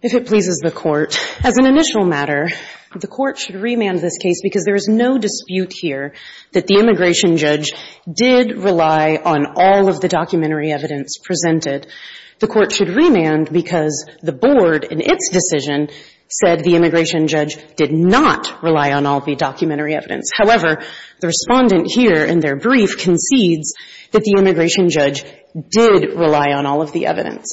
If it pleases the Court, as an initial matter, the Court should remand this case because there is no dispute here that the immigration judge did rely on all of the documentary evidence presented. The Court should remand because the Board, in its decision, said the immigration judge did not rely on all the documentary evidence. However, the Respondent here, in their brief, concedes that the immigration judge did rely on all of the evidence.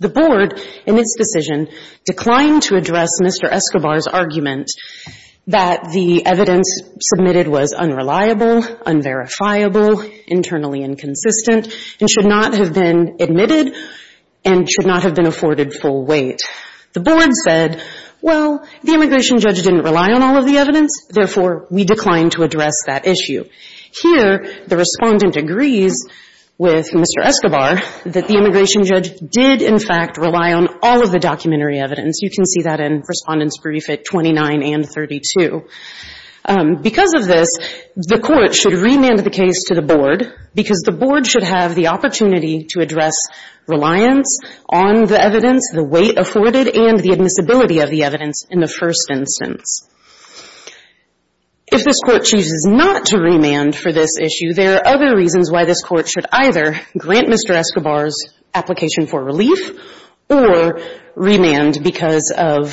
The Board, in its decision, declined to address Mr. Escobar's argument that the evidence submitted was unreliable, unverifiable, internally inconsistent, and should not have been admitted and should not have been Here, the Respondent agrees with Mr. Escobar that the immigration judge did, in fact, rely on all of the documentary evidence. You can see that in Respondent's brief at 29 and 32. Because of this, the Court should remand the case to the Board because the Board should have the opportunity to address reliance on the evidence, the weight afforded, and the admissibility of the evidence in the first instance. If this Court chooses not to remand for this issue, there are other reasons why this Court should either grant Mr. Escobar's application for relief or remand because of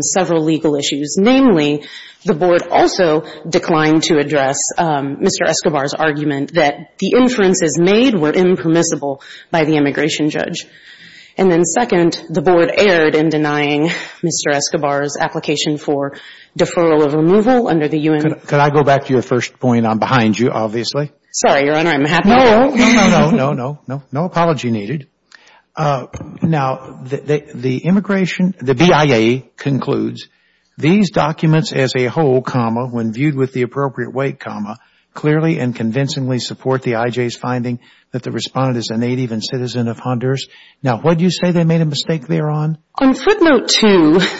several legal issues. Namely, the Board also declined to address Mr. Escobar's argument that the inferences made were impermissible by the immigration judge. And then second, the Board erred in denying Mr. Escobar's application for deferral of removal under the U.N. Could I go back to your first point? I'm behind you, obviously. Sorry, Your Honor, I'm happy. No, no, no, no. No apology needed. Now, the BIA concludes, these documents as a whole, when viewed with the appropriate weight, clearly and convincingly support the IJ's finding that the Respondent is a made a mistake thereon? On footnote 2,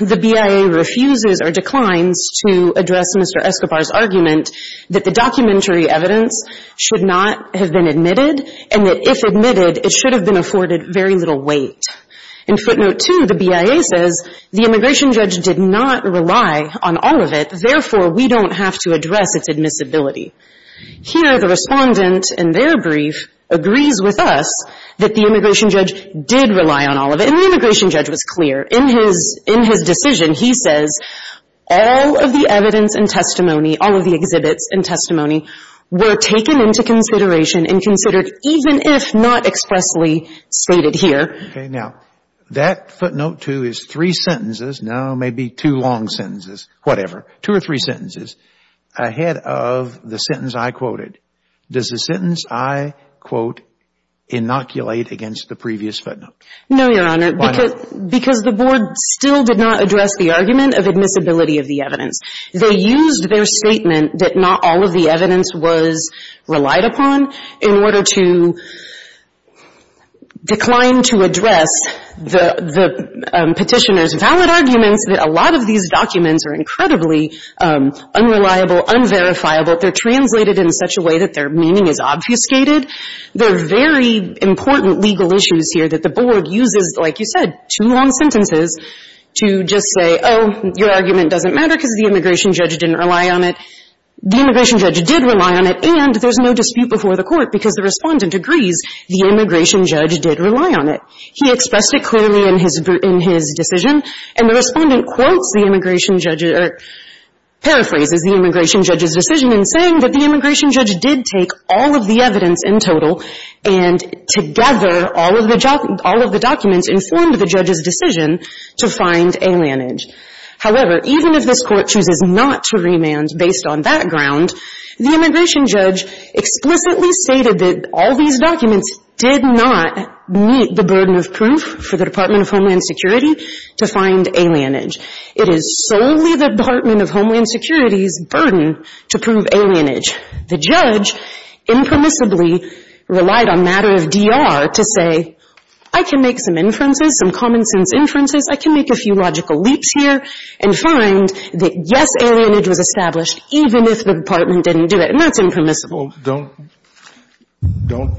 the BIA refuses or declines to address Mr. Escobar's argument that the documentary evidence should not have been admitted and that if admitted, it should have been afforded very little weight. In footnote 2, the BIA says the immigration judge did not rely on all of it. Therefore, we don't have to address its admissibility. Here, the Respondent in their brief agrees with us that the immigration judge did rely on all of it. And the immigration judge was clear. In his decision, he says all of the evidence and testimony, all of the exhibits and testimony, were taken into consideration and considered even if not expressly stated here. Okay. Now, that footnote 2 is three sentences, no, maybe two long sentences, whatever, two or three sentences ahead of the sentence I quoted. Does the sentence I quote inoculate against the previous footnote? No, Your Honor. Why not? Because the Board still did not address the argument of admissibility of the evidence. They used their statement that not all of the evidence was relied upon in order to decline to address the Petitioner's valid arguments that a lot of these documents are incredibly unreliable, unverifiable. They're translated in such a way that their meaning is obfuscated. There are very important legal issues here that the Board uses, like you said, two long sentences to just say, oh, your argument doesn't matter because the immigration judge didn't rely on it. The immigration judge did rely on it. And there's no dispute before the Court because the Respondent agrees the immigration judge did rely on it. He expressed it clearly in his decision. And the Respondent quotes the immigration judge's or paraphrases the immigration judge's decision in saying that the immigration judge did take all of the evidence in total and together all of the documents informed the judge's decision to find alienage. However, even if this Court chooses not to remand based on that ground, the immigration judge explicitly stated that all these documents did not meet the burden of proof for the Department of Homeland Security to find alienage. It is solely the Department of Homeland Security's burden to prove alienage. The judge impermissibly relied on a matter of DR to say, I can make some inferences, some common-sense inferences. I can make a few logical leaps here and find that, yes, alienage was established even if the Department didn't do it. And that's impermissible. Don't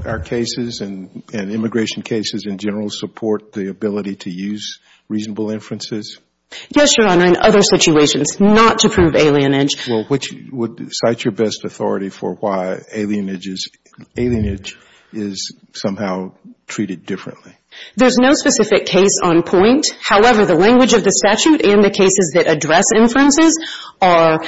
our cases and immigration cases in general support the ability to use reasonable inferences? Yes, Your Honor. In other situations, not to prove alienage. Well, which would cite your best authority for why alienage is somehow treated differently? There's no specific case on point. However, the language of the statute and the cases that address inferences are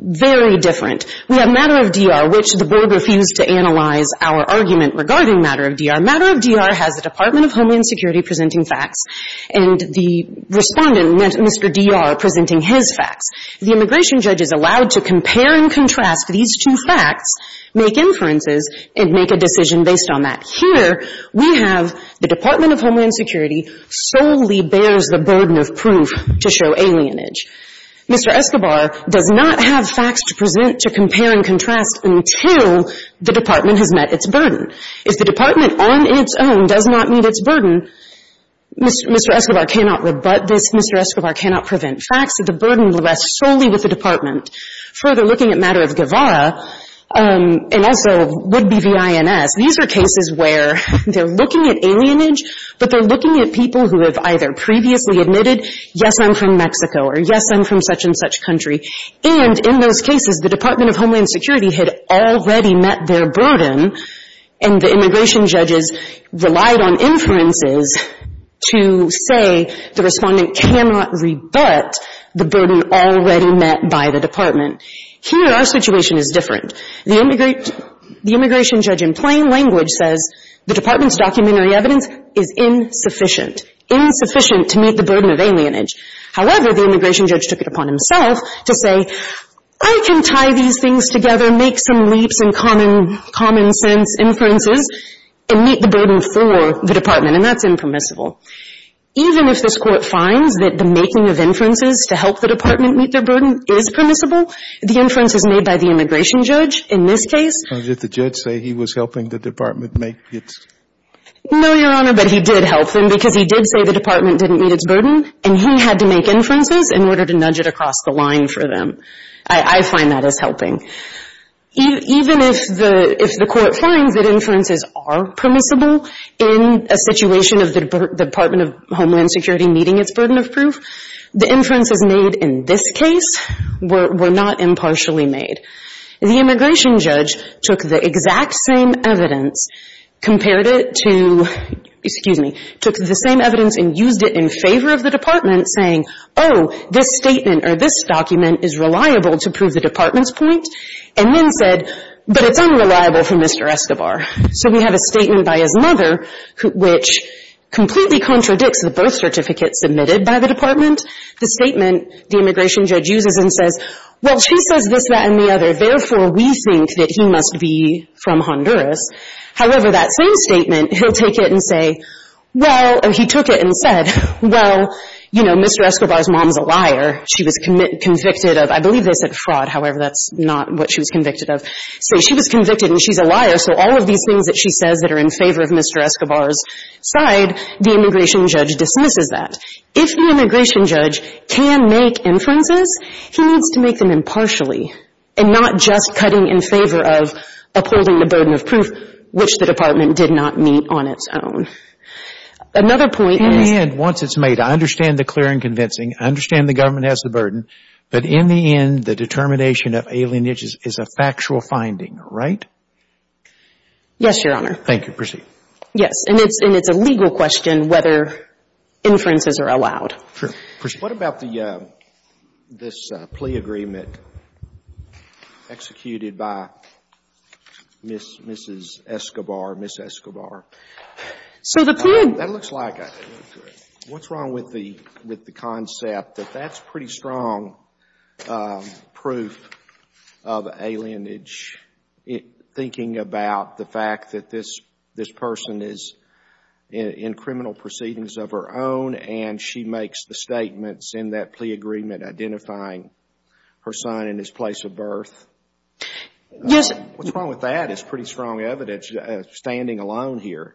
very different. We have matter of DR, which the Board refused to analyze our argument regarding matter of DR. Matter of DR has the Department of Homeland Security presenting facts, and the Respondent meant Mr. DR presenting his facts. The immigration judge is allowed to compare and contrast these two facts, make inferences, and make a decision based on that. Here, we have the Department of Homeland Security solely bears the burden of proof to show alienage. Mr. Escobar does not have facts to present, to compare and contrast until the Department has met its burden. If the Department on its own does not meet its burden, Mr. Escobar cannot rebut this. Mr. Escobar cannot prevent facts. The burden rests solely with the Department. Further, looking at matter of Guevara, and also would-be V.I.N.S., these are cases where they're looking at alienage, but they're looking at people who have either previously admitted, yes, I'm from Mexico, or yes, I'm from such and such country. And in those cases, the Department of Homeland Security had already met their burden, and the immigration judges relied on inferences to say the Respondent cannot rebut the burden already met by the Department. Here, our situation is different. The immigration judge, in plain language, says the Department's documentary evidence is insufficient. Insufficient to meet the burden of alienage. However, the immigration judge took it upon himself to say, I can tie these things together, make some leaps in common sense inferences, and meet the burden for the Department, and that's impermissible. Even if this Court finds that the making of inferences to help the Department meet their burden is permissible, the inference is made by the immigration judge in this case. Did the judge say he was helping the Department make its? No, Your Honor, but he did help them because he did say the Department didn't meet its burden, and he had to make inferences in order to nudge it across the line for them. I find that as helping. Even if the Court finds that inferences are permissible in a situation of the Department of Homeland Security meeting its burden of proof, the inferences made in this case were not impartially made. The immigration judge took the exact same evidence, compared it to, excuse me, took the same evidence and used it in favor of the Department, saying, oh, this statement or this document is reliable to prove the Department's point, and then said, but it's unreliable for Mr. Escobar. So we have a statement by his mother which completely contradicts the birth certificate submitted by the Department. The statement the immigration judge uses and says, well, she says this, that, and the other. Therefore, we think that he must be from Honduras. However, that same statement, he'll take it and say, well, or he took it and said, well, you know, Mr. Escobar's mom's a liar. She was convicted of, I believe they said fraud. However, that's not what she was convicted of. So she was convicted, and she's a liar. So all of these things that she says that are in favor of Mr. Escobar's side, the immigration judge dismisses that. If the immigration judge can make inferences, he needs to make them impartially and not just cutting in favor of upholding the burden of proof which the Department did not meet on its own. Another point is that… And once it's made, I understand the clear and convincing. I understand the government has the burden. But in the end, the determination of alienation is a factual finding, right? Yes, Your Honor. Thank you. Proceed. Yes. And it's a legal question whether inferences are allowed. Sure. Proceed. What about this plea agreement executed by Mrs. Escobar, Ms. Escobar? So the plea… That looks like a… What's wrong with the concept that that's pretty strong proof of alienage, thinking about the fact that this person is in criminal proceedings of her own and she makes the statements in that plea agreement identifying her son and his place of birth? Yes. What's wrong with that? It's pretty strong evidence standing alone here.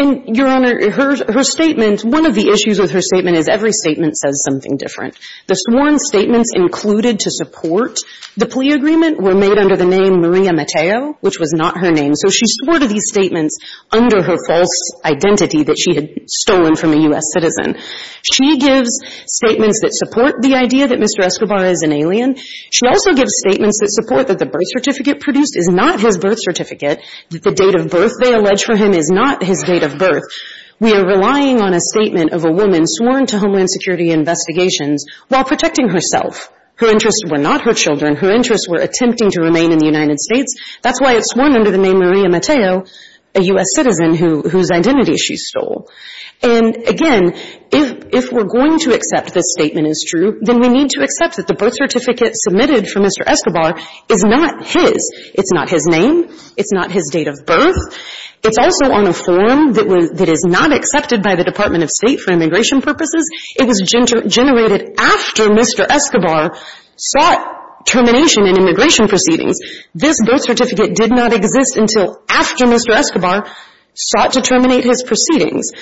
And, Your Honor, her statement, one of the issues with her statement is every statement says something different. The sworn statements included to support the plea agreement were made under the name Maria Mateo, which was not her name. So she swore to these statements under her false identity that she had stolen from a U.S. citizen. She gives statements that support the idea that Mr. Escobar is an alien. She also gives statements that support that the birth certificate produced is not his birth certificate, that the date of birth they allege for him is not his date of birth. We are relying on a statement of a woman sworn to Homeland Security Investigations while protecting herself. Her interests were not her children. Her interests were attempting to remain in the United States. That's why it's sworn under the name Maria Mateo, a U.S. citizen whose identity she stole. And, again, if we're going to accept this statement is true, then we need to accept that the birth certificate submitted for Mr. Escobar is not his. It's not his name. It's not his date of birth. It's also on a form that is not accepted by the Department of State for immigration purposes. It was generated after Mr. Escobar sought termination in immigration proceedings. This birth certificate did not exist until after Mr. Escobar sought to terminate his proceedings.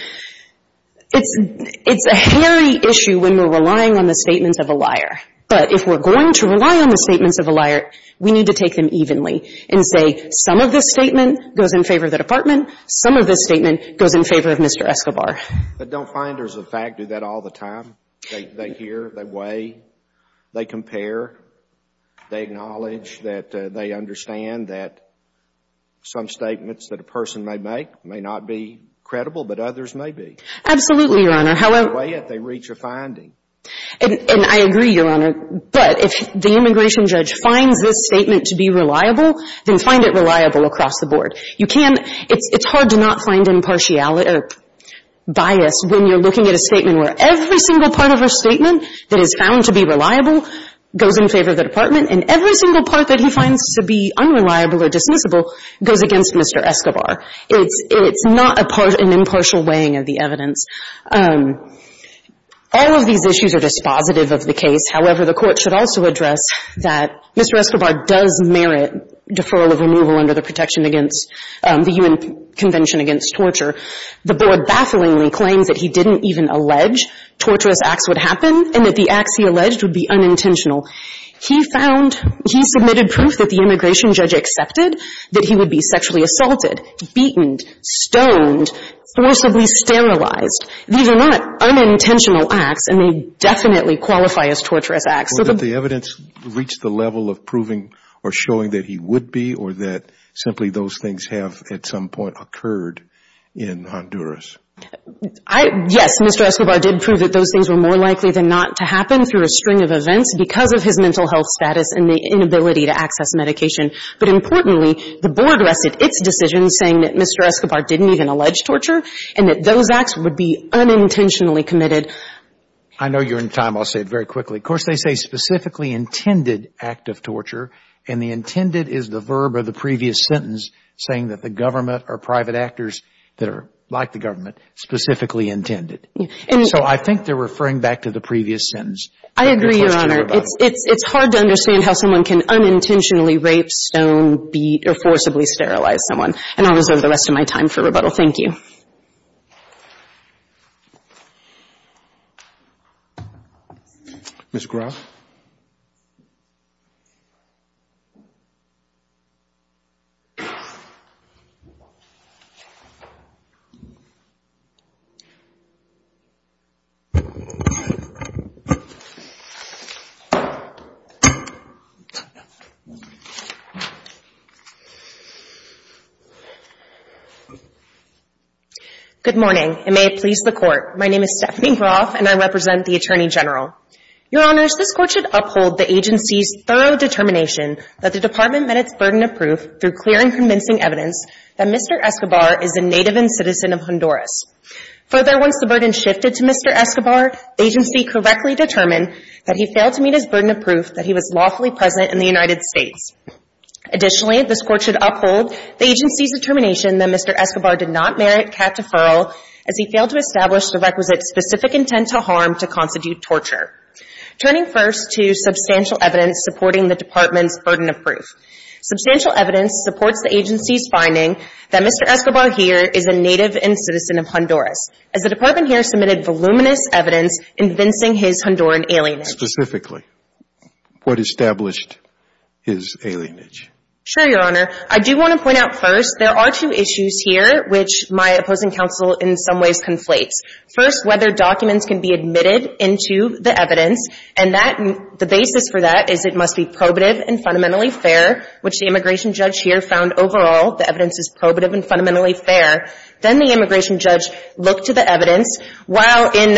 It's a hairy issue when we're relying on the statements of a liar. But if we're going to rely on the statements of a liar, we need to take them evenly and say some of this statement goes in favor of the Department, some of this statement goes in favor of Mr. Escobar. But don't finders of fact do that all the time? They hear, they weigh, they compare, they acknowledge that they understand that some statements that a person may make may not be credible, but others may be. Absolutely, Your Honor. However, they weigh it, they reach a finding. And I agree, Your Honor. But if the immigration judge finds this statement to be reliable, then find it reliable across the board. You can't, it's hard to not find impartiality or bias when you're looking at a statement where every single part of a statement that is found to be reliable goes in favor of the Department, and every single part that he finds to be unreliable or dismissible goes against Mr. Escobar. It's not an impartial weighing of the evidence. All of these issues are dispositive of the case. However, the Court should also address that Mr. Escobar does merit deferral of removal under the Protection Against the Human Convention Against Torture. The Board bafflingly claims that he didn't even allege torturous acts would happen and that the acts he alleged would be unintentional. He found, he submitted proof that the immigration judge accepted that he would be sexually These are not unintentional acts, and they definitely qualify as torturous acts. So did the evidence reach the level of proving or showing that he would be, or that simply those things have at some point occurred in Honduras? Yes, Mr. Escobar did prove that those things were more likely than not to happen through a string of events because of his mental health status and the inability to access medication. But importantly, the Board rested its decision saying that Mr. Escobar didn't even be unintentionally committed. I know you're in time. I'll say it very quickly. Of course, they say specifically intended act of torture. And the intended is the verb of the previous sentence saying that the government or private actors that are like the government, specifically intended. So I think they're referring back to the previous sentence. I agree, Your Honor. It's hard to understand how someone can unintentionally rape, stone, beat, or forcibly sterilize someone. And I'll reserve the rest of my time for rebuttal. Thank you. Thank you, Your Honor. Good morning, and may it please the Court. My name is Stephanie Groff, and I represent the Attorney General. Your Honors, this Court should uphold the agency's thorough determination that the Department met its burden of proof through clear and convincing evidence that Mr. Escobar is a native and citizen of Honduras. Further, once the burden shifted to Mr. Escobar, the agency correctly determined that he failed to meet his burden of proof that he was lawfully present in the United States. Additionally, this Court should uphold the agency's determination that Mr. Escobar did not merit cat deferral as he failed to establish the requisite specific intent to harm to constitute torture. Turning first to substantial evidence supporting the Department's burden of proof. Substantial evidence supports the agency's finding that Mr. Escobar here is a native and citizen of Honduras, as the Department here submitted voluminous evidence convincing his Honduran alienage. Specifically, what established his alienage? Sure, Your Honor. I do want to point out first there are two issues here which my opposing counsel in some ways conflates. First, whether documents can be admitted into the evidence, and that the basis for that is it must be probative and fundamentally fair, which the immigration judge here found overall the evidence is probative and fundamentally fair. Then the immigration judge looked to the evidence. While in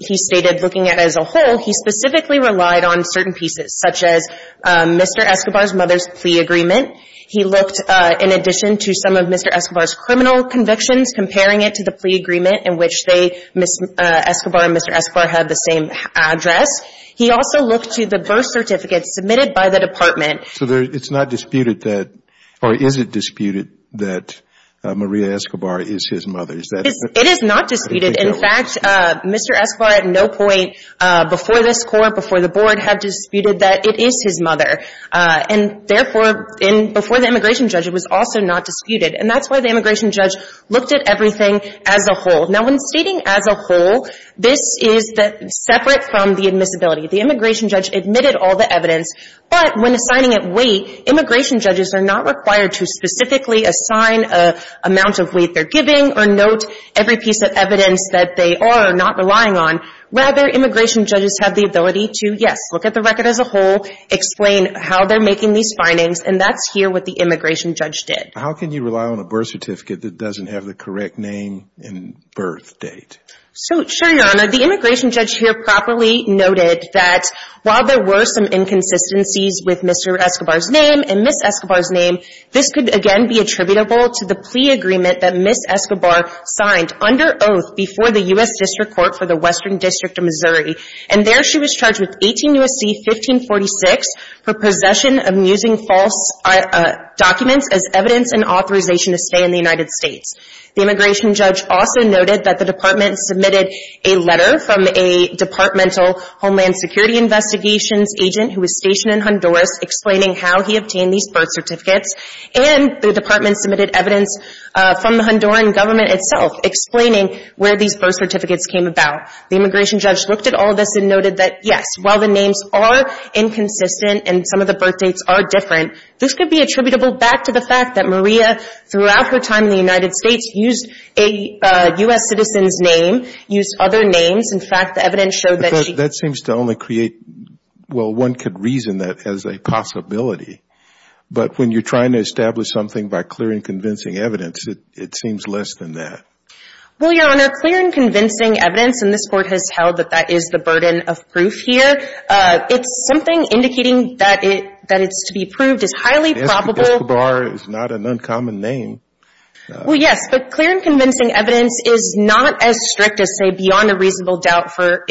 he stated looking at it as a whole, he specifically relied on certain pieces, such as Mr. Escobar's mother's plea agreement. He looked in addition to some of Mr. Escobar's criminal convictions, comparing it to the plea agreement in which Ms. Escobar and Mr. Escobar have the same address. He also looked to the birth certificates submitted by the Department. So it's not disputed that, or is it disputed that Maria Escobar is his mother? It is not disputed. In fact, Mr. Escobar at no point before this Court, before the Board, have disputed that it is his mother. And therefore, before the immigration judge, it was also not disputed. And that's why the immigration judge looked at everything as a whole. Now, when stating as a whole, this is separate from the admissibility. The immigration judge admitted all the evidence, but when assigning it weight, immigration judges are not required to specifically assign an amount of weight they're giving or note every piece of evidence that they are not relying on. Rather, immigration judges have the ability to, yes, look at the record as a whole, explain how they're making these findings, and that's here what the immigration judge did. How can you rely on a birth certificate that doesn't have the correct name and birth date? So, Your Honor, the immigration judge here properly noted that while there were some inconsistencies with Mr. Escobar's name and Ms. Escobar's name, this could, again, be attributable to the plea agreement that Ms. Escobar signed under oath before the U.S. District Court for the Western District of Missouri. And there she was charged with 18 U.S.C. 1546 for possession of using false documents as evidence and authorization to stay in the United States. The immigration judge also noted that the Department submitted a letter from a Departmental Homeland Security Investigations agent who was stationed in Honduras explaining how he obtained these birth certificates, and the Department submitted evidence from the Honduran government itself explaining where these birth certificates came about. The immigration judge looked at all this and noted that, yes, while the names are inconsistent and some of the birth dates are different, this could be attributable back to the fact that Maria, throughout her time in the United States, used a U.S. citizen's name, used other names. In fact, the evidence showed that she – That seems to only create – well, one could reason that as a possibility. But when you're trying to establish something by clear and convincing evidence, it seems less than that. Well, Your Honor, clear and convincing evidence, and this Court has held that that is the burden of proof here. It's something indicating that it's to be proved is highly probable. Escobar is not an uncommon name. Well, yes. But clear and convincing evidence is not as strict as, say, beyond a reasonable doubt for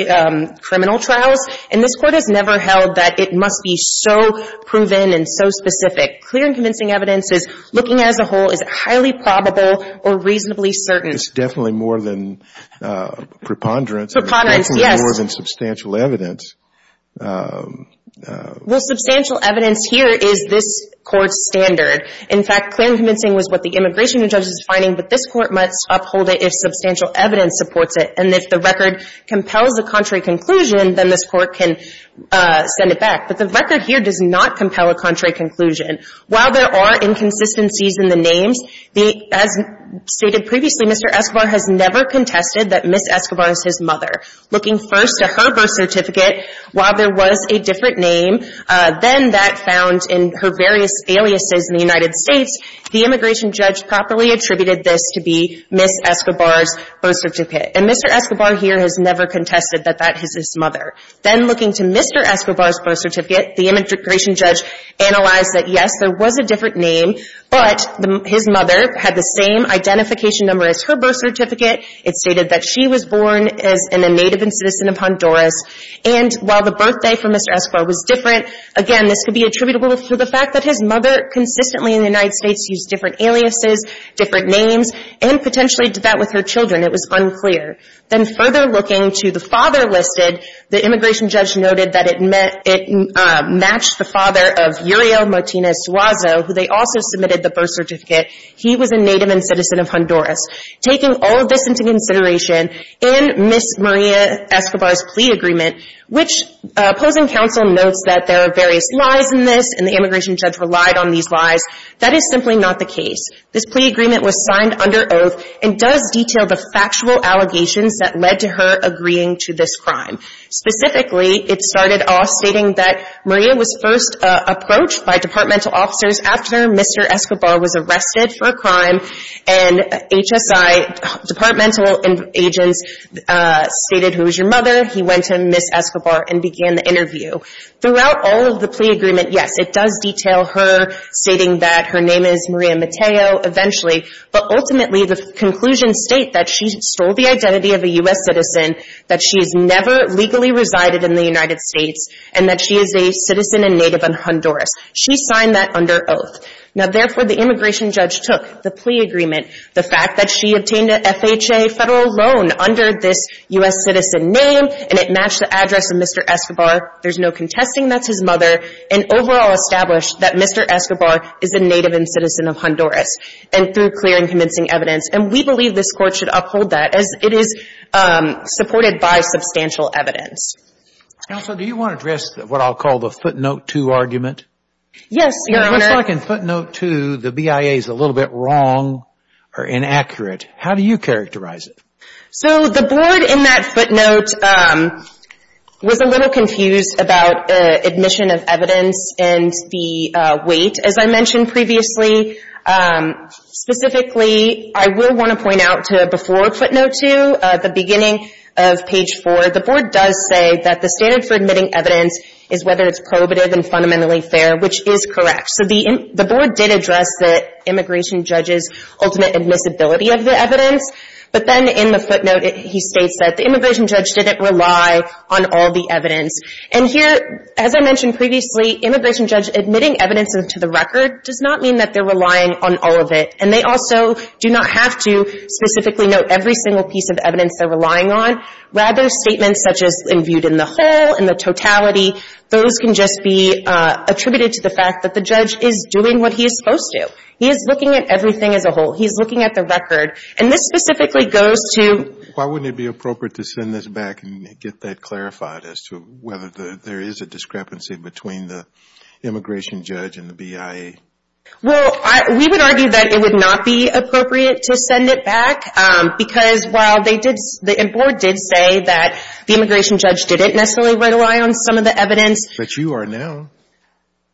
criminal trials. And this Court has never held that it must be so proven and so specific. Clear and convincing evidence is looking as a whole. Is it highly probable or reasonably certain? It's definitely more than preponderance. Preponderance, yes. It's definitely more than substantial evidence. Well, substantial evidence here is this Court's standard. In fact, clear and convincing was what the immigration judge was finding, but this Court must uphold it if substantial evidence supports it. And if the record compels a contrary conclusion, then this Court can send it back. But the record here does not compel a contrary conclusion. While there are inconsistencies in the names, as stated previously, Mr. Escobar has never contested that Ms. Escobar is his mother. Looking first at her birth certificate, while there was a different name than that found in her various aliases in the United States, the immigration judge properly attributed this to be Ms. Escobar's birth certificate. And Mr. Escobar here has never contested that that is his mother. Then looking to Mr. Escobar's birth certificate, the immigration judge analyzed that, yes, there was a different name, but his mother had the same identification number as her birth certificate. It stated that she was born as a native and citizen of Honduras. And while the birthday for Mr. Escobar was different, again, this could be attributable to the fact that his mother consistently in the United States used different aliases, different names, and potentially did that with her children. It was unclear. Then further looking to the father listed, the immigration judge noted that it matched the father of Uriel Martinez Suazo, who they also submitted the birth certificate. He was a native and citizen of Honduras. Taking all of this into consideration, in Ms. Maria Escobar's plea agreement, which opposing counsel notes that there are various lies in this and the immigration judge relied on these lies, that is simply not the case. This plea agreement was signed under oath and does detail the factual allegations that led to her agreeing to this crime. Specifically, it started off stating that Maria was first approached by departmental officers after Mr. Escobar was arrested for a crime and HSI departmental agents stated, who is your mother? He went to Ms. Escobar and began the interview. Throughout all of the plea agreement, yes, it does detail her stating that her name is Maria Mateo eventually, but ultimately the conclusions state that she stole the identity of a U.S. citizen, that she has never legally resided in the United States, and that she is a citizen and native in Honduras. She signed that under oath. Now, therefore, the immigration judge took the plea agreement, the fact that she obtained a FHA federal loan under this U.S. citizen name and it matched the address of Mr. Escobar, there's no contesting that's his mother, and overall established that Mr. Escobar is a native and citizen of Honduras and through clear and convincing evidence, and we believe this Court should uphold that as it is supported by substantial evidence. Counsel, do you want to address what I'll call the footnote two argument? Yes, Your Honor. It looks like in footnote two the BIA is a little bit wrong or inaccurate. How do you characterize it? So the board in that footnote was a little confused about admission of evidence and the weight, as I mentioned previously. Specifically, I will want to point out to before footnote two, at the beginning of page four, the board does say that the standard for admitting evidence is whether it's prohibitive and fundamentally fair, which is correct. So the board did address the immigration judge's ultimate admissibility of the evidence, but then in the footnote he states that the immigration judge didn't rely on all the evidence. And here, as I mentioned previously, immigration judge admitting evidence to the record does not mean that they're relying on all of it. And they also do not have to specifically note every single piece of evidence they're relying on. Rather, statements such as in viewed in the whole, in the totality, those can just be attributed to the fact that the judge is doing what he is supposed to. He is looking at everything as a whole. He is looking at the record. And this specifically goes to — Rather, there is a discrepancy between the immigration judge and the BIA. Well, we would argue that it would not be appropriate to send it back because while they did, the board did say that the immigration judge didn't necessarily rely on some of the evidence. But you are now.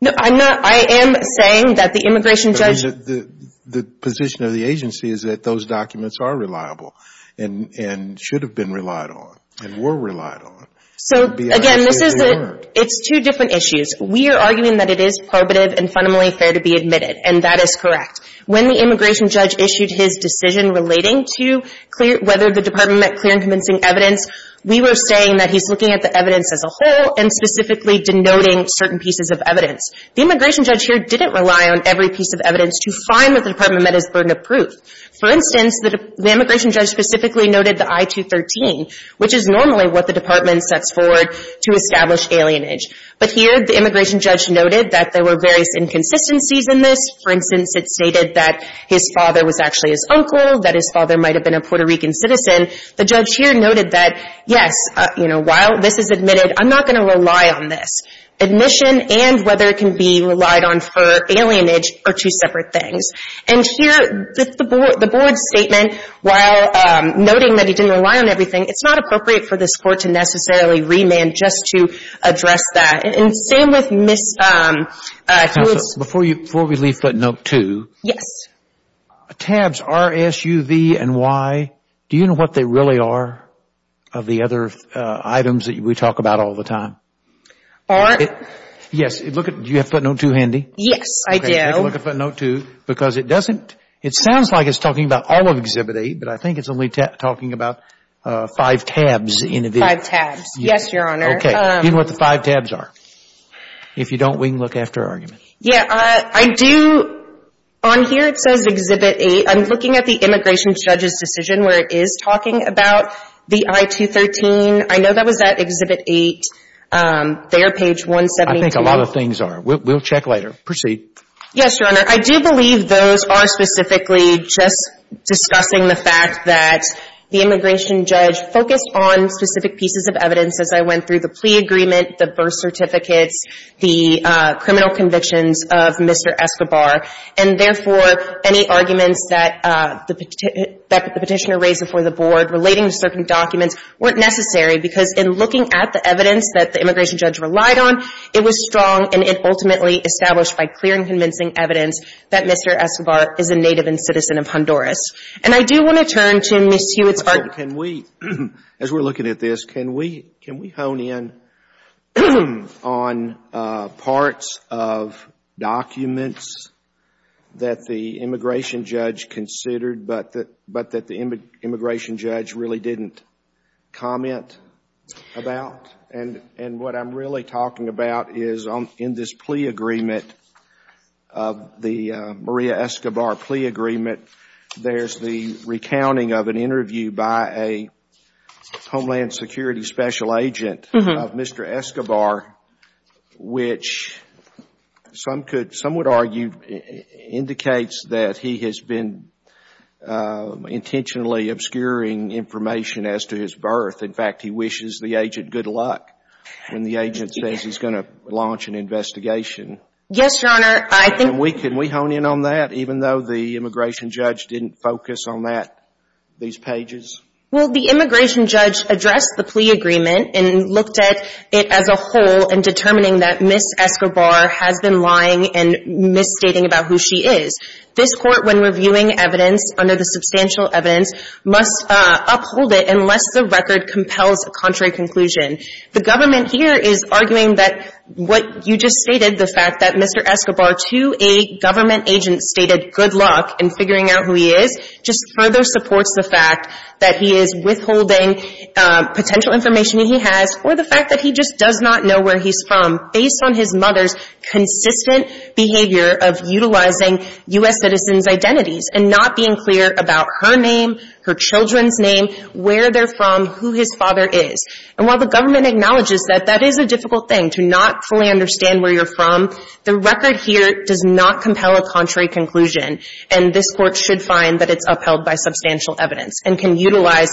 No, I'm not. I am saying that the immigration judge— The position of the agency is that those documents are reliable and should have been relied on and were relied on. So, again, this is a — it's two different issues. We are arguing that it is probative and fundamentally fair to be admitted. And that is correct. When the immigration judge issued his decision relating to whether the department met clear and convincing evidence, we were saying that he's looking at the evidence as a whole and specifically denoting certain pieces of evidence. The immigration judge here didn't rely on every piece of evidence to find what the department met as burden of proof. For instance, the immigration judge specifically noted the I-213, which is normally what the department sets forward to establish alienage. But here, the immigration judge noted that there were various inconsistencies in this. For instance, it stated that his father was actually his uncle, that his father might have been a Puerto Rican citizen. The judge here noted that, yes, you know, while this is admitted, I'm not going to rely on this. Admission and whether it can be relied on for alienage are two separate things. And here, the board's statement, while noting that he didn't rely on everything, it's not appropriate for this Court to necessarily remand just to address that. And same with Ms. Hewitt's. Before we leave footnote 2. Yes. Tabs R, S, U, V, and Y, do you know what they really are of the other items that we talk about all the time? Aren't. Yes. Do you have footnote 2 handy? Yes, I do. Okay. Take a look at footnote 2 because it doesn't, it sounds like it's talking about all of Exhibit 8, but I think it's only talking about five tabs in the video. Five tabs. Yes, Your Honor. Okay. Do you know what the five tabs are? If you don't, we can look after our argument. Yeah. I do. On here, it says Exhibit 8. I'm looking at the immigration judge's decision where it is talking about the I-213. I know that was at Exhibit 8, there, page 172. I think a lot of things are. We'll check later. Proceed. Yes, Your Honor. I do believe those are specifically just discussing the fact that the immigration judge focused on specific pieces of evidence as I went through the plea agreement, the birth certificates, the criminal convictions of Mr. Escobar, and, therefore, any arguments that the petitioner raised before the board relating to certain documents weren't necessary because in looking at the evidence that the immigration judge relied on, it was strong and it ultimately established by clear and convincing evidence that Mr. Escobar is a native and citizen of Honduras. And I do want to turn to Ms. Hewitt's argument. As we're looking at this, can we hone in on parts of documents that the immigration judge considered but that the immigration judge really didn't comment about? What I'm really talking about is in this plea agreement, the Maria Escobar plea agreement, there's the recounting of an interview by a Homeland Security special agent of Mr. Escobar, which some would argue indicates that he has been intentionally obscuring information as to his birth. In fact, he wishes the agent good luck when the agent says he's going to launch an investigation. Yes, Your Honor. Can we hone in on that, even though the immigration judge didn't focus on that, these pages? Well, the immigration judge addressed the plea agreement and looked at it as a whole in determining that Ms. Escobar has been lying and misstating about who she is. This Court, when reviewing evidence under the substantial evidence, must uphold it unless the record compels a contrary conclusion. The government here is arguing that what you just stated, the fact that Mr. Escobar, to a government agent, stated good luck in figuring out who he is, just further supports the fact that he is withholding potential information that he has for the fact that he just does not know where he's from, based on his mother's consistent behavior of utilizing U.S. citizens' identities and not being clear about her name, her children's name, where they're from, who his father is. And while the government acknowledges that that is a difficult thing, to not fully understand where you're from, the record here does not compel a contrary conclusion, and this Court should find that it's upheld by substantial evidence and can utilize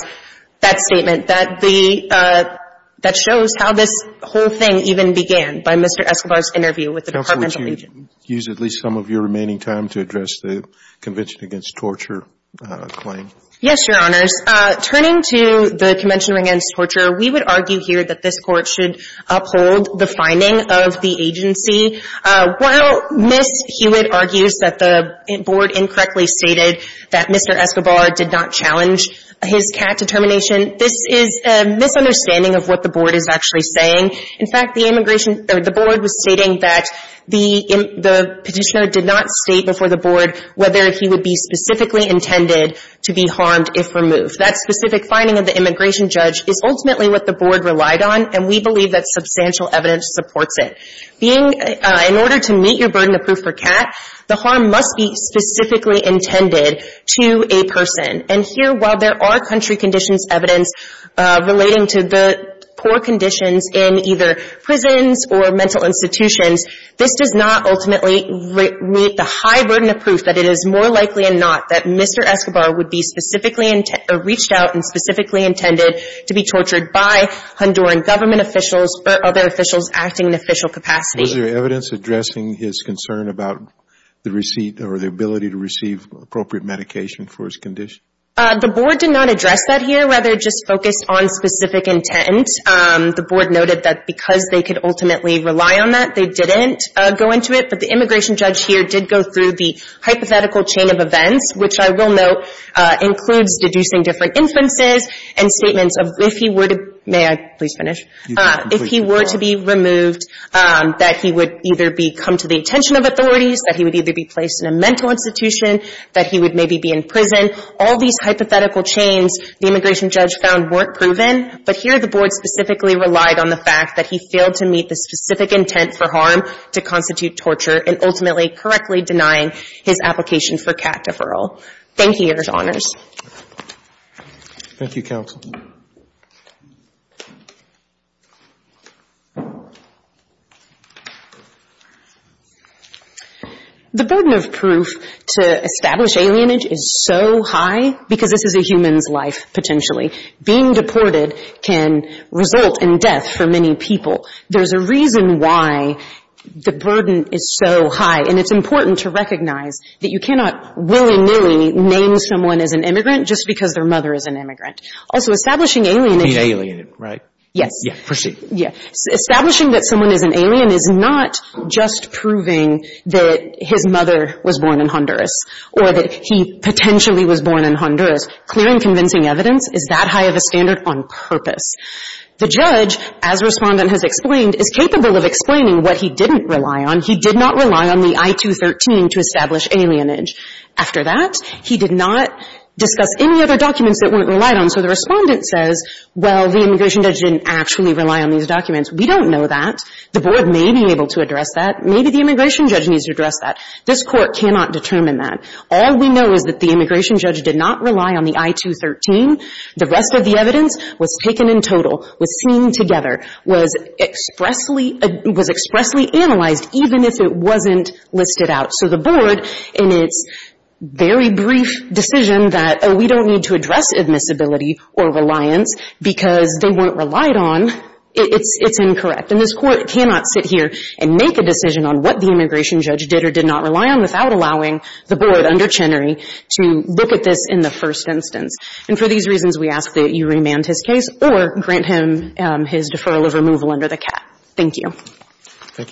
that statement that the — that shows how this whole thing even began by Mr. Escobar's interview with the departmental agent. Roberts, do you want to use at least some of your remaining time to address the Convention Against Torture claim? Yes, Your Honors. Turning to the Convention Against Torture, we would argue here that this Court should uphold the finding of the agency. While Ms. Hewitt argues that the board incorrectly stated that Mr. Escobar did not challenge his CAT determination, this is a misunderstanding of what the board is actually saying. In fact, the immigration — the board was stating that the petitioner did not state before the board whether he would be specifically intended to be harmed if removed. That specific finding of the immigration judge is ultimately what the board relied on, and we believe that substantial evidence supports it. Being — in order to meet your burden of proof for CAT, the harm must be specifically intended to a person. And here, while there are country conditions evidence relating to the poor conditions in either prisons or mental institutions, this does not ultimately meet the high burden of proof that it is more likely or not that Mr. Escobar would be specifically — reached out and specifically intended to be tortured by Honduran government officials or other officials acting in official capacity. Was there evidence addressing his concern about the receipt or the ability to receive appropriate medication for his condition? The board did not address that here. We were rather just focused on specific intent. The board noted that because they could ultimately rely on that, they didn't go into it. But the immigration judge here did go through the hypothetical chain of events, which I will note includes deducing different inferences and statements of if he were to — may I please finish? Please. If he were to be removed, that he would either be — come to the attention of authorities, that he would either be placed in a mental institution, that he would maybe be in prison. All these hypothetical chains the immigration judge found weren't proven, but here the board specifically relied on the fact that he failed to meet the specific intent for harm to constitute torture and ultimately correctly denying his application for cat deferral. Thank you, counsel. The burden of proof to establish alienage is so high because this is a human's life, potentially. Being deported can result in death for many people. There's a reason why the burden is so high, and it's important to recognize that you cannot willy-nilly name someone as an immigrant just because their mother is an immigrant. Also, establishing alienage — Being alien, right? Yes. Yes. Proceed. Yes. Establishing that someone is an alien is not just proving that his mother was born in Honduras or that he potentially was born in Honduras. Clear and convincing evidence is that high of a standard on purpose. The judge, as Respondent has explained, is capable of explaining what he didn't rely on. He did not rely on the I-213 to establish alienage. After that, he did not discuss any other documents that weren't relied on. So the Respondent says, well, the immigration judge didn't actually rely on these documents. We don't know that. The Board may be able to address that. Maybe the immigration judge needs to address that. This Court cannot determine that. All we know is that the immigration judge did not rely on the I-213. The rest of the evidence was taken in total, was seen together, was expressly — was expressly listed out. So the Board, in its very brief decision that, oh, we don't need to address admissibility or reliance because they weren't relied on, it's incorrect. And this Court cannot sit here and make a decision on what the immigration judge did or did not rely on without allowing the Board under Chenery to look at this in the first instance. And for these reasons, we ask that you remand his case or grant him his deferral of removal under the cap. Thank you.